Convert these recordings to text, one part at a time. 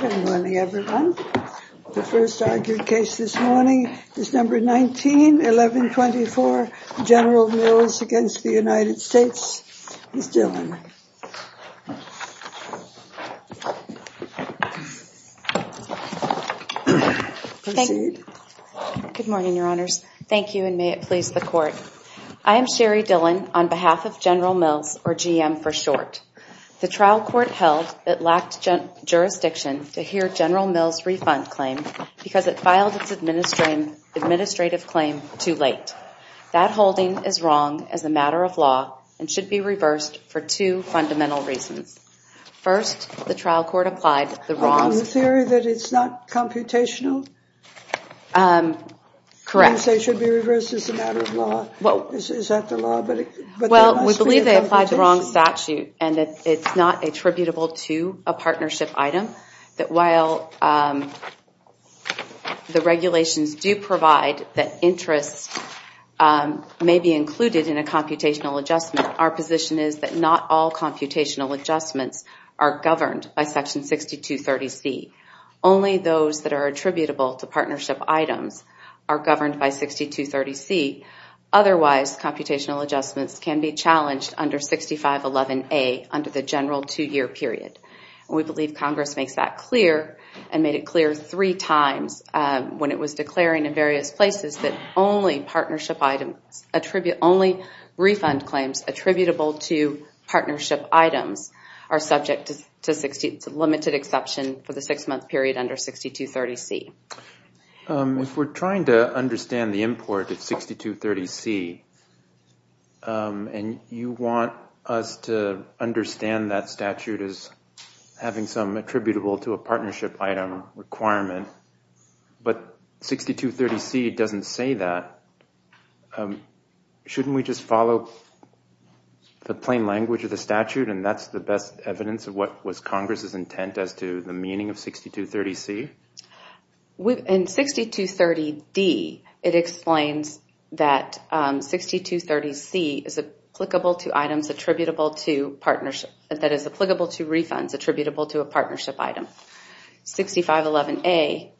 Good morning, everyone. The first argued case this morning is Number 19-1124, General Mills v. United States. Ms. Dillon. Good morning, Your Honors. Thank you, and may it please the Court. I am Sherry Dillon, on behalf of General Mills, or GM for short. The trial court held it lacked jurisdiction to hear General Mills' refund claim because it filed its administrative claim too late. That holding is wrong as a matter of law and should be reversed for two fundamental reasons. First, the trial court applied the wrong... Is that the law? Well, we believe they applied the wrong statute and that it's not attributable to a partnership item. That while the regulations do provide that interests may be included in a computational adjustment, our position is that not all computational adjustments are governed by Section 6230C. Only those that are attributable to partnership items are governed by 6230C. Otherwise, computational adjustments can be challenged under 6511A under the general two-year period. We believe Congress makes that clear and made it clear three times when it was declaring in various places that only refund claims attributable to partnership items are subject to limited exception for the six-month period under 6230C. If we're trying to understand the import of 6230C and you want us to understand that statute as having some attributable to a partnership item requirement, but 6230C doesn't say that, shouldn't we just follow the plain language of the statute and that's the best evidence of what was Congress' intent as to the meaning of 6230C? In 6230D, it explains that 6230C is applicable to refunds attributable to a partnership item. 6511A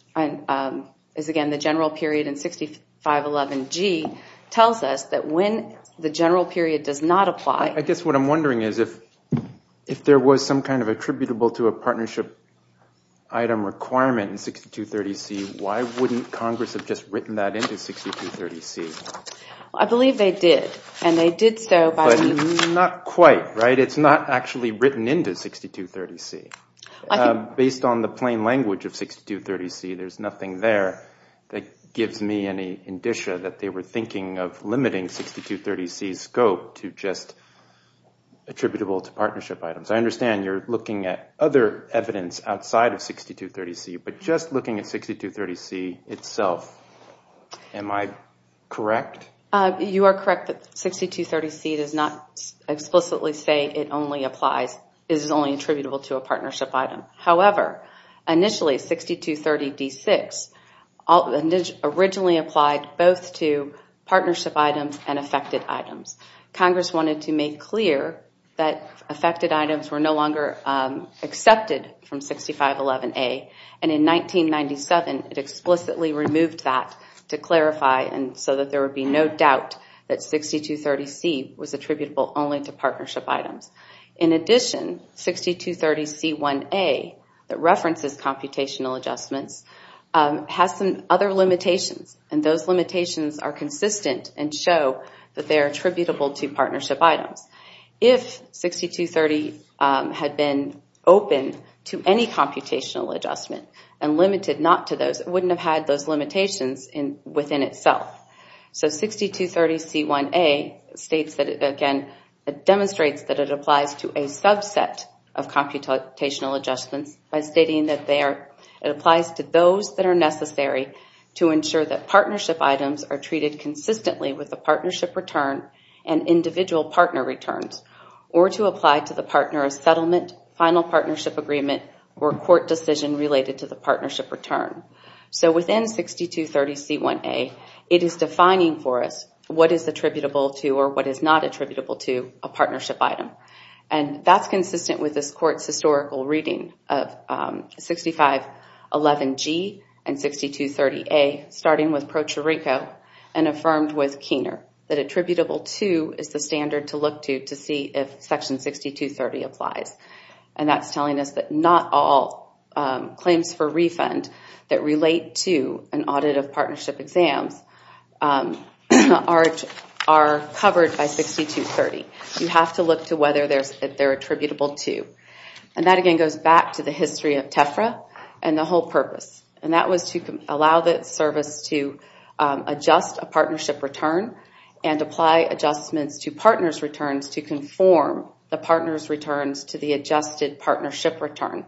is again the general period and 6511G tells us that when the general period does not apply... ...in 6230C, why wouldn't Congress have just written that into 6230C? I believe they did, and they did so by... But not quite, right? It's not actually written into 6230C. Based on the plain language of 6230C, there's nothing there that gives me any indicia that they were thinking of limiting 6230C's scope to just attributable to partnership items. I understand you're looking at other evidence outside of 6230C, but just looking at 6230C itself, am I correct? You are correct that 6230C does not explicitly say it only applies, is only attributable to a partnership item. However, initially 6230D-6 originally applied both to partnership items and affected items. Congress wanted to make clear that affected items were no longer accepted from 6511A. In 1997, it explicitly removed that to clarify so that there would be no doubt that 6230C was attributable only to partnership items. In addition, 6230C-1A, that references computational adjustments, has some other limitations. And those limitations are consistent and show that they are attributable to partnership items. If 6230 had been open to any computational adjustment and limited not to those, it wouldn't have had those limitations within itself. So 6230C-1A demonstrates that it applies to a subset of computational adjustments by stating that it applies to those that are necessary to ensure that partnership items are treated consistently with the partnership return and individual partner returns, or to apply to the partner a settlement, final partnership agreement, or court decision related to the partnership return. So within 6230C-1A, it is defining for us what is attributable to or what is not attributable to a partnership item. And that's consistent with this court's historical reading of 6511G and 6230A, starting with Pro Chirico and affirmed with Keener, that attributable to is the standard to look to to see if section 6230 applies. And that's telling us that not all claims for refund that relate to an audit of partnership exams are covered by 6230. You have to look to whether they're attributable to. And that again goes back to the history of TEFRA and the whole purpose. And that was to allow the service to adjust a partnership return and apply adjustments to partner's returns to conform the partner's returns to the adjusted partnership return.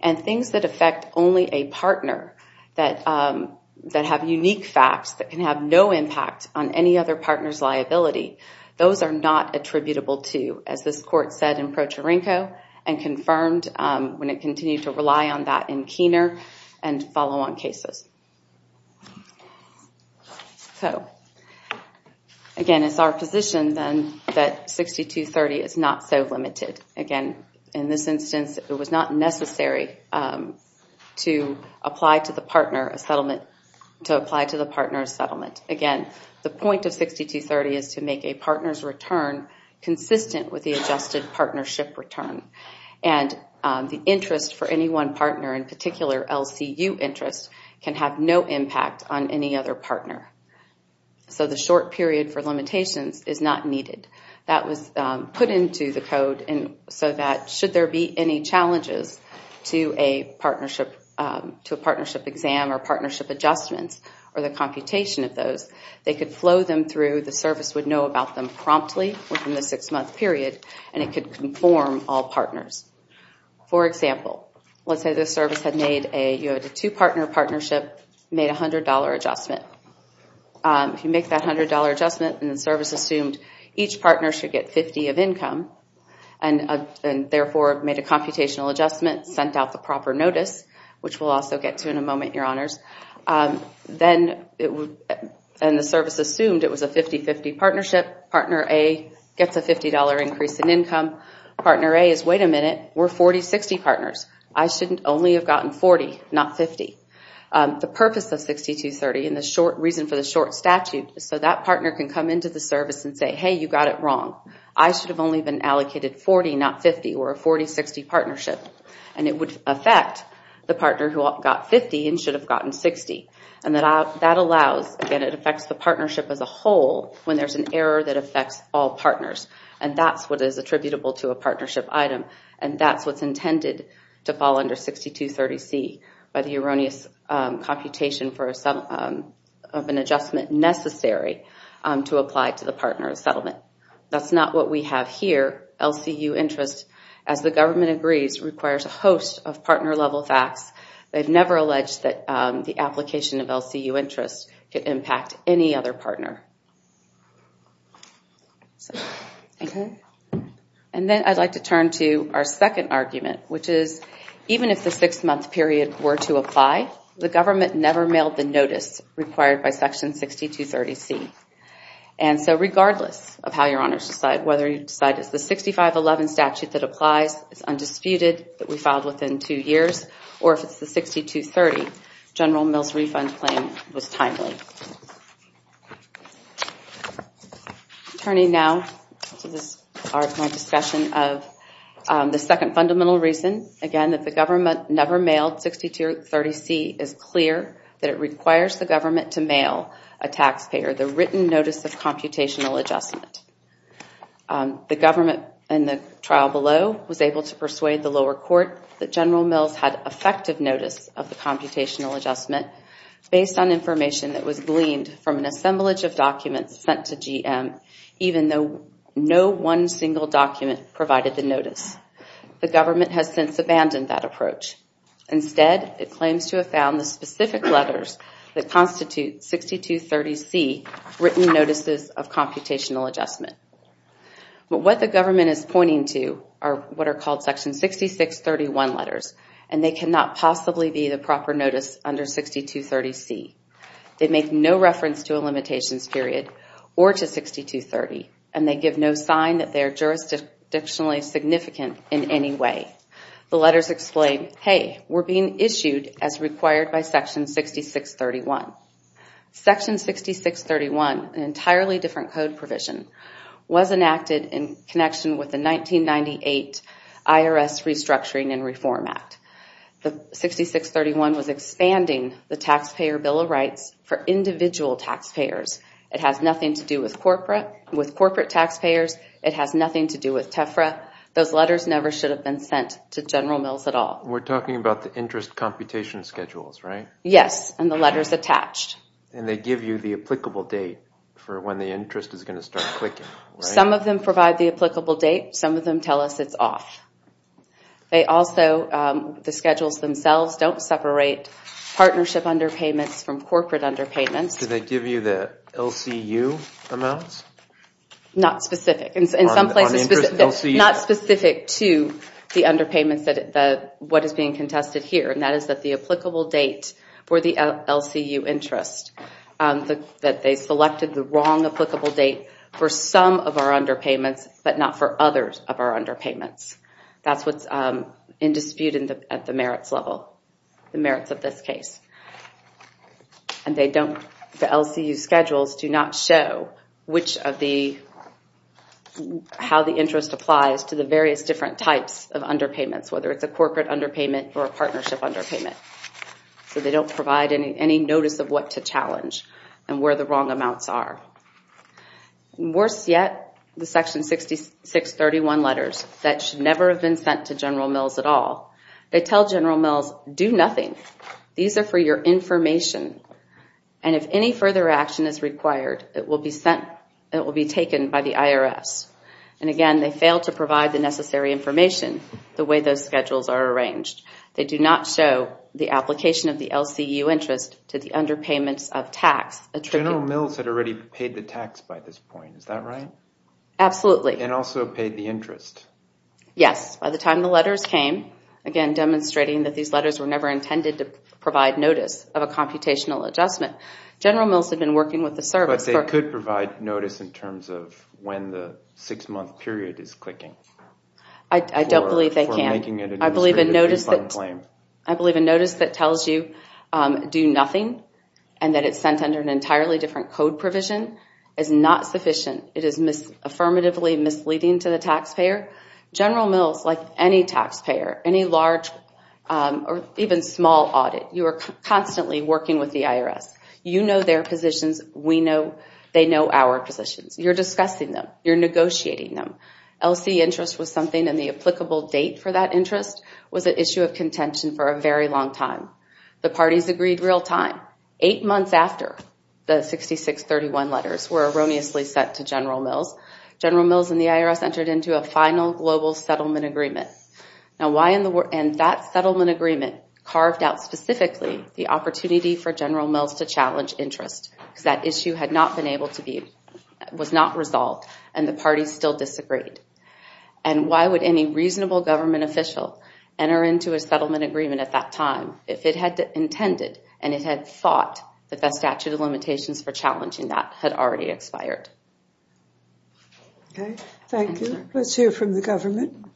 And things that affect only a partner that have unique facts that can have no impact on any other partner's liability, those are not attributable to, as this court said in Pro Chirico and confirmed when it continued to rely on that in Keener and follow on cases. So again, it's our position then that 6230 is not so limited. Again, in this instance, it was not necessary to apply to the partner a settlement. Again, the point of 6230 is to make a partner's return consistent with the adjusted partnership return. And the interest for any one partner, in particular LCU interest, can have no impact on any other partner. So the short period for limitations is not needed. That was put into the code so that should there be any challenges to a partnership exam or partnership adjustments or the computation of those, they could flow them through, the service would know about them promptly within the six-month period, and it could conform all partners. For example, let's say the service had made a two-partner partnership, made a $100 adjustment. If you make that $100 adjustment and the service assumed each partner should get 50 of income and therefore made a computational adjustment, sent out the proper notice, which we'll also get to in a moment, Your Honors, then the service assumed it was a 50-50 partnership. Partner A gets a $50 increase in income. Partner A is, wait a minute, we're 40-60 partners. I shouldn't only have gotten 40, not 50. The purpose of 6230 and the reason for the short statute is so that partner can come into the service and say, hey, you got it wrong. I should have only been allocated 40, not 50. We're a 40-60 partnership. And it would affect the partner who got 50 and should have gotten 60. And that allows, again, it affects the partnership as a whole when there's an error that affects all partners. And that's what is attributable to a partnership item, and that's what's intended to fall under 6230C by the erroneous computation of an adjustment necessary to apply to the partner settlement. That's not what we have here, LCU interest. As the government agrees, it requires a host of partner-level facts. They've never alleged that the application of LCU interest could impact any other partner. And then I'd like to turn to our second argument, which is even if the six-month period were to apply, the government never mailed the notice required by Section 6230C. And so regardless of how your honors decide, whether you decide it's the 6511 statute that applies, it's undisputed that we filed within two years, or if it's the 6230, General Mills' refund claim was timely. Turning now to my discussion of the second fundamental reason, again, that the government never mailed 6230C is clear that it requires the government to mail a taxpayer, the written notice of computational adjustment. The government in the trial below was able to persuade the lower court that General Mills had effective notice of the computational adjustment based on information that was gleaned from an assemblage of documents sent to GM, even though no one single document provided the notice. The government has since abandoned that approach. Instead, it claims to have found the specific letters that constitute 6230C written notices of computational adjustment. But what the government is pointing to are what are called Section 6631 letters, and they cannot possibly be the proper notice under 6230C. They make no reference to a limitations period or to 6230, and they give no sign that they are jurisdictionally significant in any way. The letters explain, hey, we're being issued as required by Section 6631. Section 6631, an entirely different code provision, was enacted in connection with the 1998 IRS Restructuring and Reform Act. The 6631 was expanding the Taxpayer Bill of Rights for individual taxpayers. It has nothing to do with corporate taxpayers. It has nothing to do with TEFRA. Those letters never should have been sent to General Mills at all. We're talking about the interest computation schedules, right? Yes, and the letters attached. And they give you the applicable date for when the interest is going to start clicking, right? Some of them provide the applicable date. Some of them tell us it's off. They also, the schedules themselves, don't separate partnership underpayments from corporate underpayments. Do they give you the LCU amounts? Not specific. Not specific to the underpayments, what is being contested here, and that is that the applicable date for the LCU interest, that they selected the wrong applicable date for some of our underpayments, but not for others of our underpayments. That's what's in dispute at the merits level, the merits of this case. And they don't, the LCU schedules do not show which of the, how the interest applies to the various different types of underpayments, whether it's a corporate underpayment or a partnership underpayment. So they don't provide any notice of what to challenge and where the wrong amounts are. Worse yet, the Section 6631 letters, that should never have been sent to General Mills at all, they tell General Mills, do nothing. These are for your information, and if any further action is required, it will be sent, it will be taken by the IRS. And again, they fail to provide the necessary information, the way those schedules are arranged. They do not show the application of the LCU interest to the underpayments of tax. General Mills had already paid the tax by this point, is that right? Absolutely. And also paid the interest. Yes, by the time the letters came, again demonstrating that these letters were never intended to provide notice of a computational adjustment. General Mills had been working with the service. But they could provide notice in terms of when the six-month period is clicking. I don't believe they can. For making it an administrative refund claim. I believe a notice that tells you do nothing, and that it's sent under an entirely different code provision, is not sufficient. It is affirmatively misleading to the taxpayer. General Mills, like any taxpayer, any large or even small audit, you are constantly working with the IRS. You know their positions. We know they know our positions. You're discussing them. You're negotiating them. LC interest was something, and the applicable date for that interest was an issue of contention for a very long time. The parties agreed real time. Eight months after the 6631 letters were erroneously sent to General Mills, General Mills and the IRS entered into a final global settlement agreement. And that settlement agreement carved out specifically the opportunity for General Mills to challenge interest. Because that issue had not been able to be, was not resolved, and the parties still disagreed. And why would any reasonable government official enter into a settlement agreement at that time, if it had intended and it had thought that the statute of limitations for challenging that had already expired? Okay. Thank you. Let's hear from the government.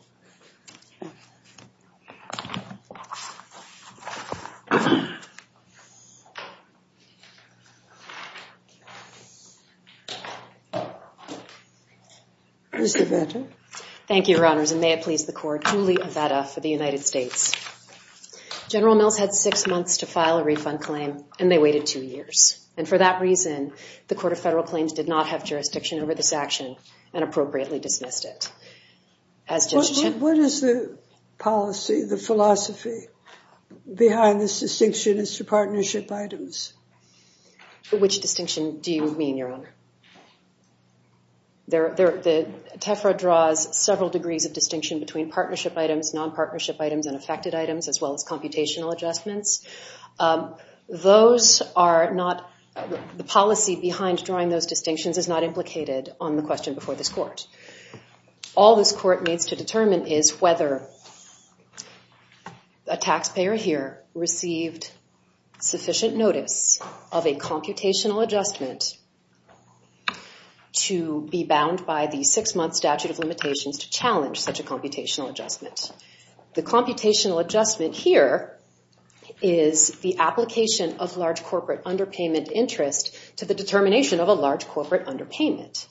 Ms. Avetta. Thank you, Your Honors, and may it please the court, Julie Avetta for the United States. General Mills had six months to file a refund claim, and they waited two years. And for that reason, the Court of Federal Claims did not have jurisdiction over this action and appropriately dismissed it. What is the policy, the philosophy behind this distinction as to partnership items? Which distinction do you mean, Your Honor? The TEFRA draws several degrees of distinction between partnership items, non-partnership items, and affected items, as well as computational adjustments. Those are not the policy behind drawing those distinctions is not implicated on the question before this court. All this court needs to determine is whether a taxpayer here received sufficient notice of a computational adjustment to be bound by the six-month statute of limitations to challenge such a computational adjustment. The computational adjustment here is the application of large corporate underpayment interest to the determination of a large corporate underpayment.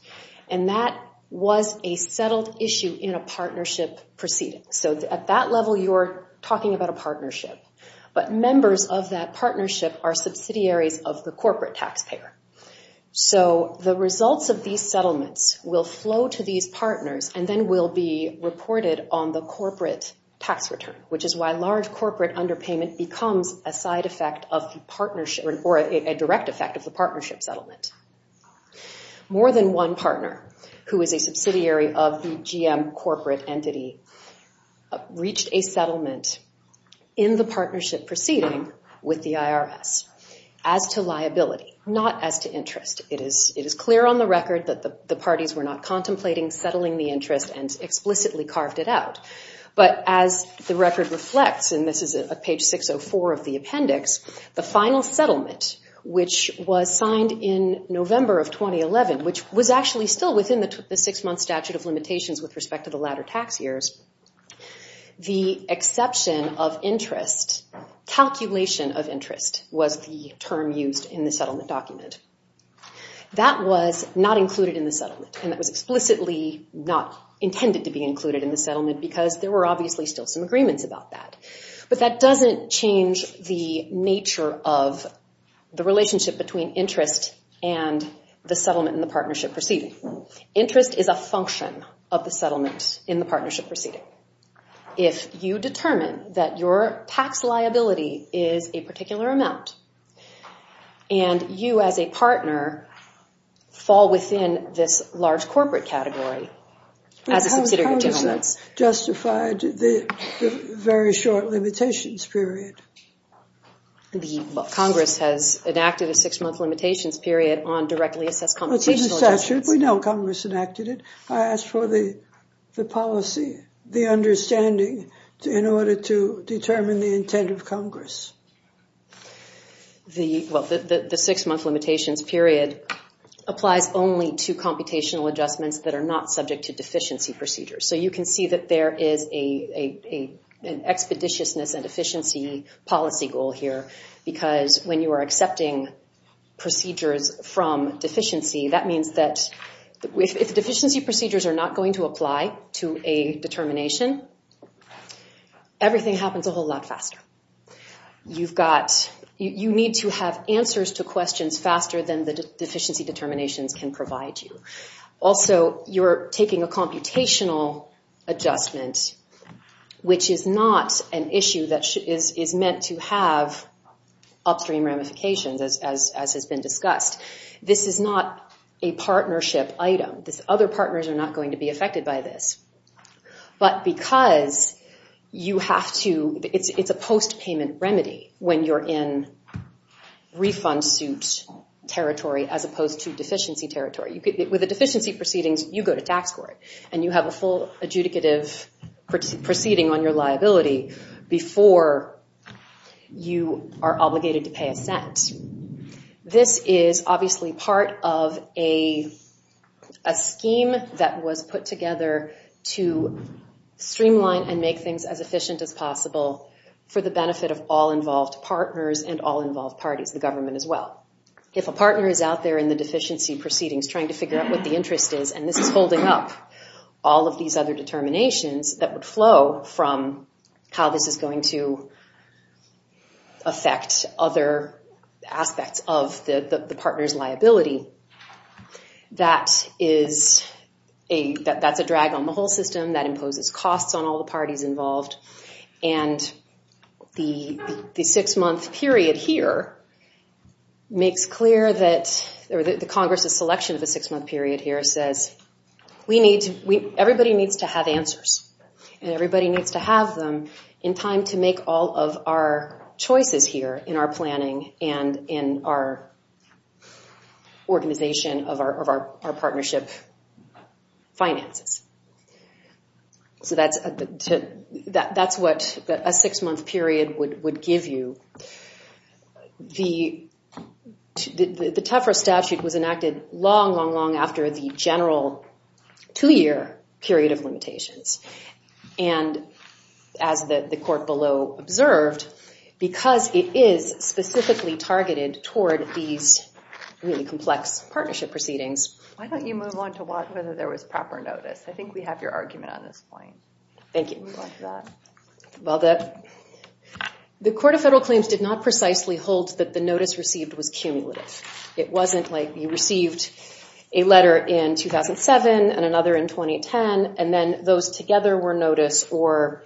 And that was a settled issue in a partnership proceeding. So at that level, you're talking about a partnership. But members of that partnership are subsidiaries of the corporate taxpayer. So the results of these settlements will flow to these partners and then will be reported on the corporate tax return, which is why large corporate underpayment becomes a side effect of the partnership or a direct effect of the partnership settlement. More than one partner who is a subsidiary of the GM corporate entity reached a settlement in the partnership proceeding with the IRS as to liability, not as to interest. It is clear on the record that the parties were not contemplating settling the interest and explicitly carved it out. But as the record reflects, and this is at page 604 of the appendix, the final settlement, which was signed in November of 2011, which was actually still within the six-month statute of limitations with respect to the latter tax years, the exception of interest, calculation of interest, was the term used in the settlement document. That was not included in the settlement, and that was explicitly not intended to be included in the settlement because there were obviously still some agreements about that. But that doesn't change the nature of the relationship between interest and the settlement in the partnership proceeding. Interest is a function of the settlement in the partnership proceeding. If you determine that your tax liability is a particular amount and you as a partner fall within this large corporate category as a subsidiary of General Mills. How does that justify the very short limitations period? The Congress has enacted a six-month limitations period on directly assessed computational adjustments. We know Congress enacted it. I asked for the policy, the understanding, in order to determine the intent of Congress. The six-month limitations period applies only to computational adjustments that are not subject to deficiency procedures. So you can see that there is an expeditiousness and efficiency policy goal here because when you are accepting procedures from deficiency, that means that if deficiency procedures are not going to apply to a determination, everything happens a whole lot faster. You need to have answers to questions faster than the deficiency determinations can provide you. Also, you're taking a computational adjustment, which is not an issue that is meant to have upstream ramifications, as has been discussed. This is not a partnership item. Other partners are not going to be affected by this. But because it's a post-payment remedy when you're in refund suit territory as opposed to deficiency territory. With the deficiency proceedings, you go to tax court and you have a full adjudicative proceeding on your liability before you are obligated to pay a cent. This is obviously part of a scheme that was put together to streamline and make things as efficient as possible for the benefit of all involved partners and all involved parties, the government as well. If a partner is out there in the deficiency proceedings trying to figure out what the interest is, and this is holding up all of these other determinations that would flow from how this is going to affect other aspects of the partner's liability, that's a drag on the whole system. That imposes costs on all the parties involved. The six-month period here makes clear that the Congress's selection of the six-month period here says everybody needs to have answers, and everybody needs to have them in time to make all of our choices here in our planning and in our organization of our partnership finances. That's what a six-month period would give you. The TEFRA statute was enacted long, long, long after the general two-year period of limitations, and as the court below observed, because it is specifically targeted toward these really complex partnership proceedings. Why don't you move on to whether there was proper notice? I think we have your argument on this point. Thank you. Well, the Court of Federal Claims did not precisely hold that the notice received was cumulative. It wasn't like you received a letter in 2007 and another in 2010, and then those together were notice, or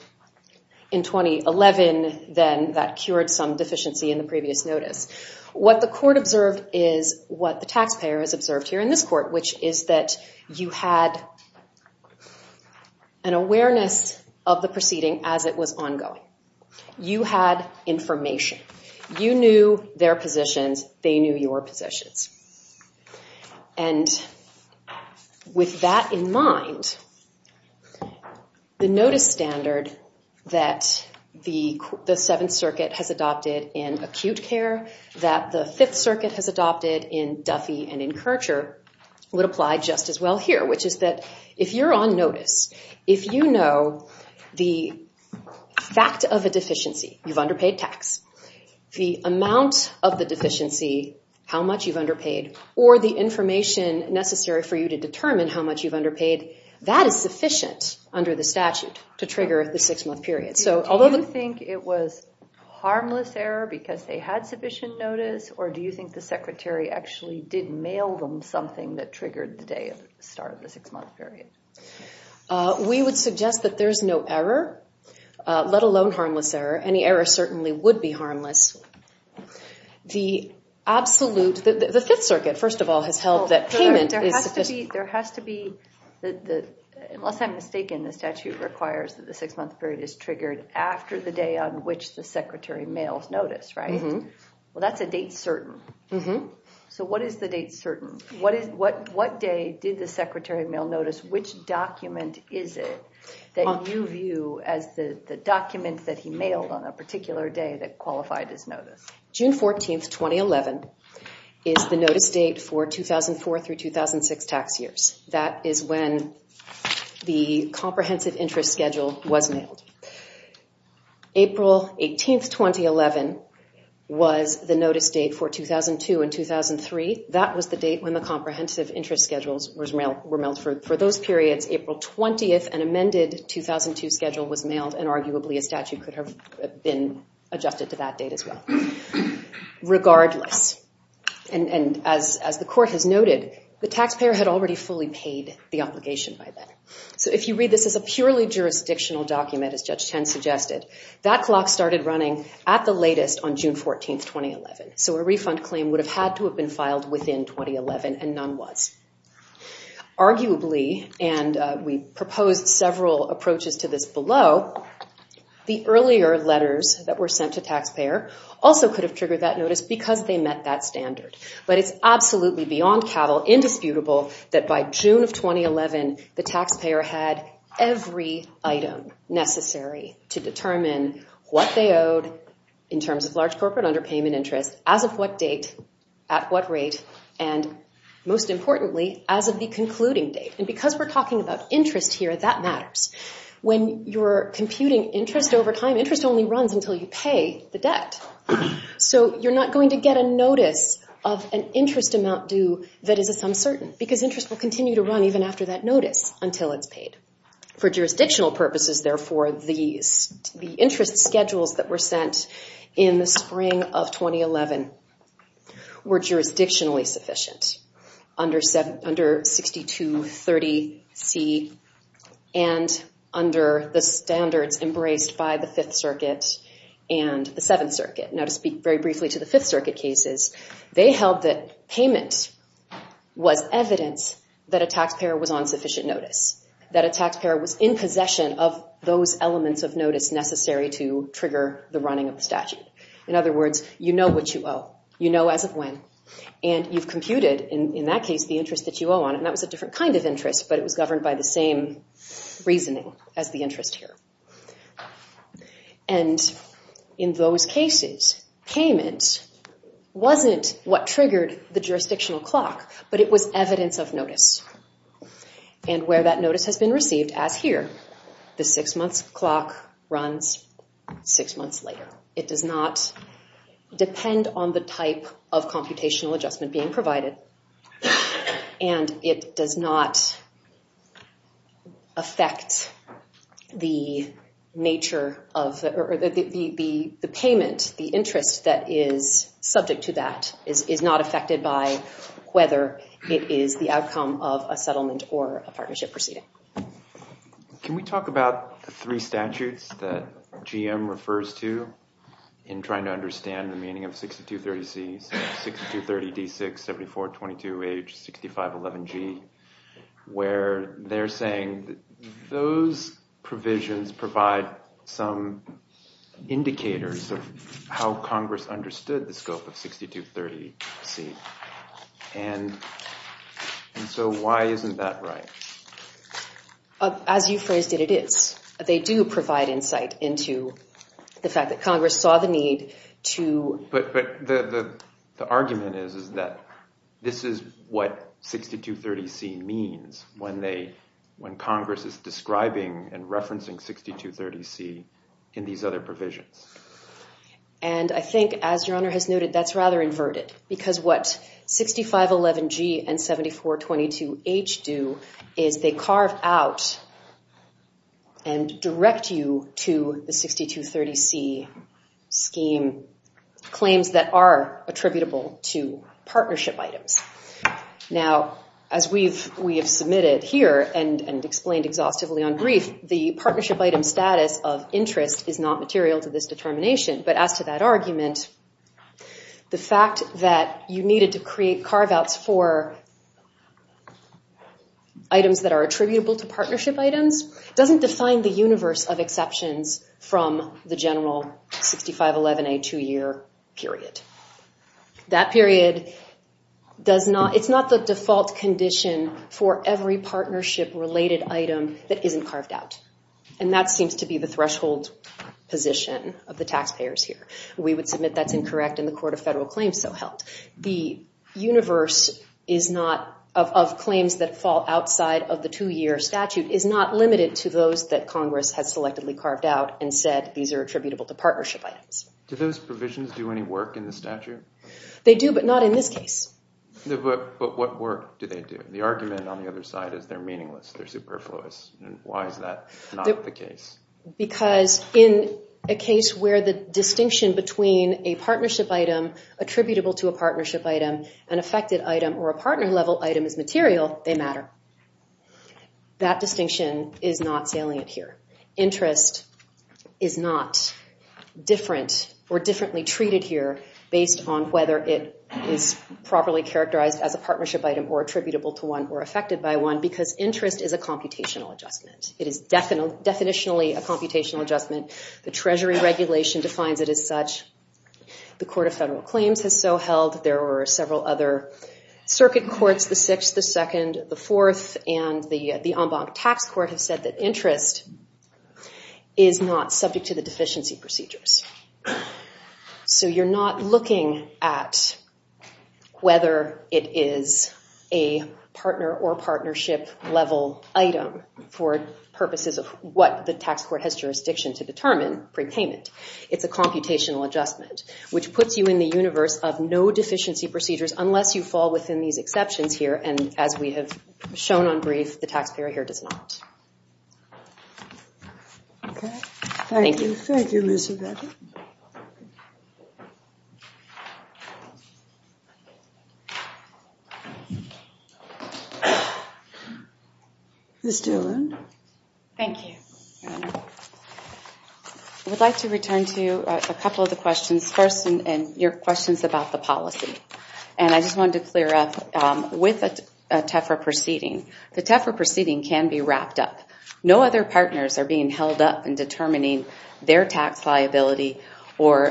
in 2011 then that cured some deficiency in the previous notice. What the court observed is what the taxpayer has observed here in this court, which is that you had an awareness of the proceeding as it was ongoing. You had information. You knew their positions. They knew your positions. And with that in mind, the notice standard that the Seventh Circuit has adopted in acute care, that the Fifth Circuit has adopted in Duffy and in Kircher, would apply just as well here, which is that if you're on notice, if you know the fact of a deficiency, you've underpaid tax, the amount of the deficiency, how much you've underpaid, or the information necessary for you to determine how much you've underpaid, that is sufficient under the statute to trigger the six-month period. Do you think it was harmless error because they had sufficient notice, or do you think the Secretary actually did mail them something that triggered the start of the six-month period? We would suggest that there's no error, let alone harmless error. Any error certainly would be harmless. The Fifth Circuit, first of all, has held that payment is sufficient. There has to be, unless I'm mistaken, the statute requires that the six-month period is triggered after the day on which the Secretary mails notice, right? Well, that's a date certain. So what is the date certain? What day did the Secretary mail notice? Which document is it that you view as the document that he mailed on a particular day that qualified as notice? June 14, 2011, is the notice date for 2004 through 2006 tax years. That is when the comprehensive interest schedule was mailed. April 18, 2011, was the notice date for 2002 and 2003. That was the date when the comprehensive interest schedules were mailed. For those periods, April 20, an amended 2002 schedule was mailed, and arguably a statute could have been adjusted to that date as well. Regardless, and as the Court has noted, the taxpayer had already fully paid the obligation by then. So if you read this as a purely jurisdictional document, as Judge Ten suggested, that clock started running at the latest on June 14, 2011. So a refund claim would have had to have been filed within 2011, and none was. Arguably, and we proposed several approaches to this below, the earlier letters that were sent to taxpayer also could have triggered that notice because they met that standard. But it's absolutely beyond cattle, indisputable, that by June of 2011, the taxpayer had every item necessary to determine what they owed in terms of large corporate underpayment interest, as of what date, at what rate, and most importantly, as of the concluding date. And because we're talking about interest here, that matters. When you're computing interest over time, interest only runs until you pay the debt. So you're not going to get a notice of an interest amount due that is a sum certain because interest will continue to run even after that notice until it's paid. For jurisdictional purposes, therefore, the interest schedules that were sent in the spring of 2011 were jurisdictionally sufficient under 6230C and under the standards embraced by the Fifth Circuit and the Seventh Circuit. Now, to speak very briefly to the Fifth Circuit cases, they held that payment was evidence that a taxpayer was on sufficient notice, that a taxpayer was in possession of those elements of notice necessary to trigger the running of the statute. In other words, you know what you owe. You know as of when. And you've computed, in that case, the interest that you owe on it, and that was a different kind of interest, but it was governed by the same reasoning as the interest here. And in those cases, payment wasn't what triggered the jurisdictional clock, but it was evidence of notice. And where that notice has been received, as here, the six-month clock runs six months later. It does not depend on the type of computational adjustment being provided, and it does not affect the nature of the payment, the interest that is subject to that, is not affected by whether it is the outcome of a settlement or a partnership proceeding. Can we talk about the three statutes that GM refers to in trying to understand the meaning of 6230C, 6230D6, 7422H, 6511G, where they're saying those provisions provide some indicators of how Congress understood the scope of 6230C. And so why isn't that right? As you phrased it, it is. They do provide insight into the fact that Congress saw the need to... But the argument is that this is what 6230C means when Congress is describing and referencing 6230C in these other provisions. And I think, as Your Honor has noted, that's rather inverted, because what 6511G and 7422H do is they carve out and direct you to the 6230C scheme claims that are attributable to partnership items. Now, as we have submitted here and explained exhaustively on brief, the partnership item status of interest is not material to this determination, but as to that argument, the fact that you needed to create carve-outs for items that are attributable to partnership items doesn't define the universe of exceptions from the general 6511A two-year period. That period does not... It's not the default condition for every partnership-related item that isn't carved out. And that seems to be the threshold position of the taxpayers here. We would submit that's incorrect, and the Court of Federal Claims so helped. The universe of claims that fall outside of the two-year statute is not limited to those that Congress has selectively carved out and said these are attributable to partnership items. Do those provisions do any work in the statute? They do, but not in this case. But what work do they do? The argument on the other side is they're meaningless, they're superfluous. Why is that not the case? Because in a case where the distinction between a partnership item attributable to a partnership item, an affected item, or a partner-level item is material, they matter. That distinction is not salient here. Interest is not different or differently treated here based on whether it is properly characterized as a partnership item or attributable to one or affected by one, because interest is a computational adjustment. It is definitionally a computational adjustment. The Treasury regulation defines it as such. The Court of Federal Claims has so held. There were several other circuit courts, the Sixth, the Second, the Fourth, and the Ombud Tax Court have said that interest is not subject to the deficiency procedures. So you're not looking at whether it is a partner or partnership-level item for purposes of what the tax court has jurisdiction to determine, prepayment. It's a computational adjustment, which puts you in the universe of no deficiency procedures unless you fall within these exceptions here, and as we have shown on brief, the taxpayer here does not. Okay. Thank you. Thank you, Ms. Yvette. Ms. Dillon. Thank you. I would like to return to a couple of the questions first, and your questions about the policy. And I just wanted to clear up, with a TEFRA proceeding, the TEFRA proceeding can be wrapped up. No other partners are being held up in determining their tax liability or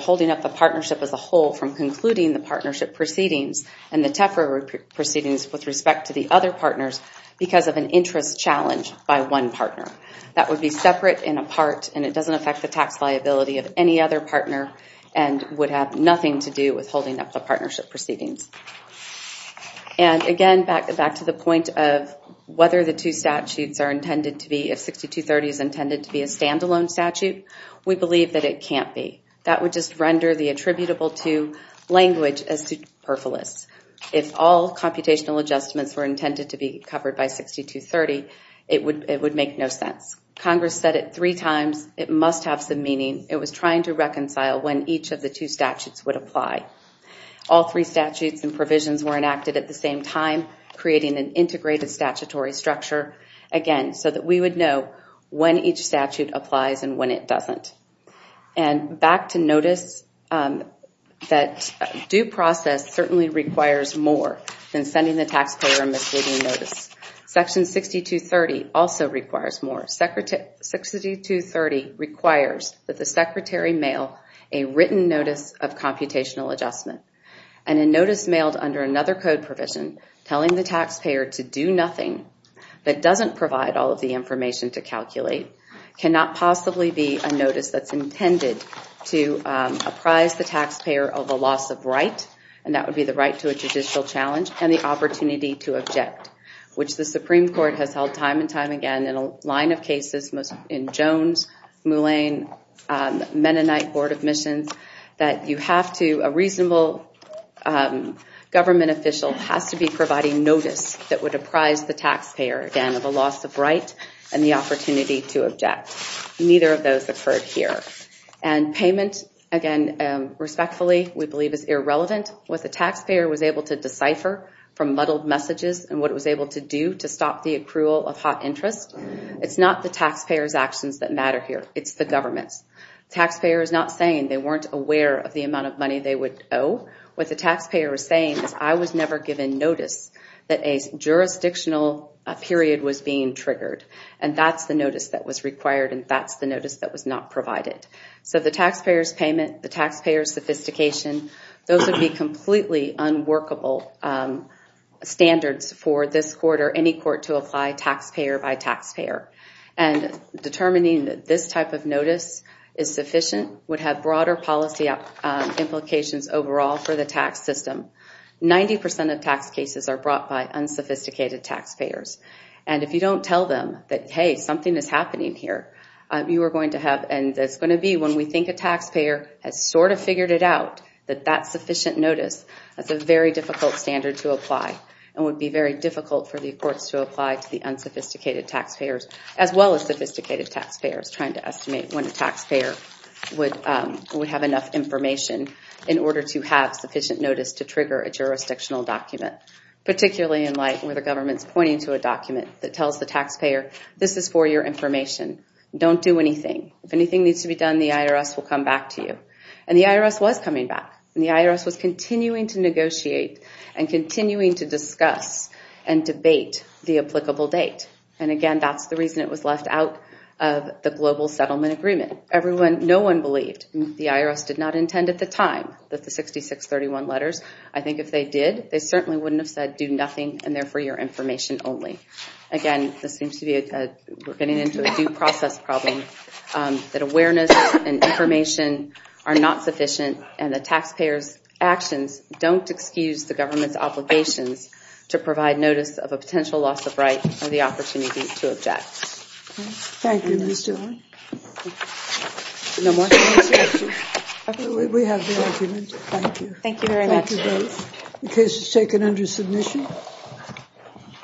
holding up the partnership as a whole from concluding the partnership proceedings and the TEFRA proceedings with respect to the other partners because of an interest challenge by one partner. That would be separate and apart, and it doesn't affect the tax liability of any other partner and would have nothing to do with holding up the partnership proceedings. And again, back to the point of whether the two statutes are intended to be, if 6230 is intended to be a stand-alone statute, we believe that it can't be. That would just render the attributable to language as superfluous. If all computational adjustments were intended to be covered by 6230, it would make no sense. Congress said it three times. It must have some meaning. It was trying to reconcile when each of the two statutes would apply. All three statutes and provisions were enacted at the same time, creating an integrated statutory structure, again, so that we would know when each statute applies and when it doesn't. And back to notice that due process certainly requires more than sending the taxpayer a misleading notice. Section 6230 also requires more. 6230 requires that the Secretary mail a written notice of computational adjustment, and a notice mailed under another code provision telling the taxpayer to do nothing that doesn't provide all of the information to calculate cannot possibly be a notice that's intended to apprise the taxpayer of a loss of right, and that would be the right to a judicial challenge, and the opportunity to object, which the Supreme Court has held time and time again in a line of cases, in Jones, Moulin, Mennonite Board of Admissions, that a reasonable government official has to be providing notice that would apprise the taxpayer, again, of a loss of right and the opportunity to object. Neither of those occurred here. And payment, again, respectfully, we believe is irrelevant. What the taxpayer was able to decipher from muddled messages and what it was able to do to stop the accrual of hot interest, it's not the taxpayer's actions that matter here. It's the government's. The taxpayer is not saying they weren't aware of the amount of money they would owe. What the taxpayer is saying is, I was never given notice that a jurisdictional period was being triggered, and that's the notice that was required and that's the notice that was not provided. So the taxpayer's payment, the taxpayer's sophistication, those would be completely unworkable standards for this court or any court to apply taxpayer by taxpayer. And determining that this type of notice is sufficient would have broader policy implications overall for the tax system. Ninety percent of tax cases are brought by unsophisticated taxpayers. And if you don't tell them that, hey, something is happening here, you are going to have, and it's going to be when we think a taxpayer has sort of figured it out, that that sufficient notice, that's a very difficult standard to apply and would be very difficult for the courts to apply to the unsophisticated taxpayers as well as sophisticated taxpayers, trying to estimate when a taxpayer would have enough information in order to have sufficient notice to trigger a jurisdictional document, particularly in light where the government is pointing to a document that tells the taxpayer, this is for your information. Don't do anything. If anything needs to be done, the IRS will come back to you. And the IRS was coming back. And the IRS was continuing to negotiate and continuing to discuss and debate the applicable date. And again, that's the reason it was left out of the global settlement agreement. No one believed, the IRS did not intend at the time, that the 6631 letters, I think if they did, they certainly wouldn't have said do nothing and they're for your information only. Again, this seems to be, we're getting into a due process problem, that awareness and information are not sufficient and the taxpayer's actions don't excuse the government's obligations to provide notice of a potential loss of right or the opportunity to object. Thank you, Ms. Dillon. We have the argument. Thank you. Thank you very much. The case is taken under submission.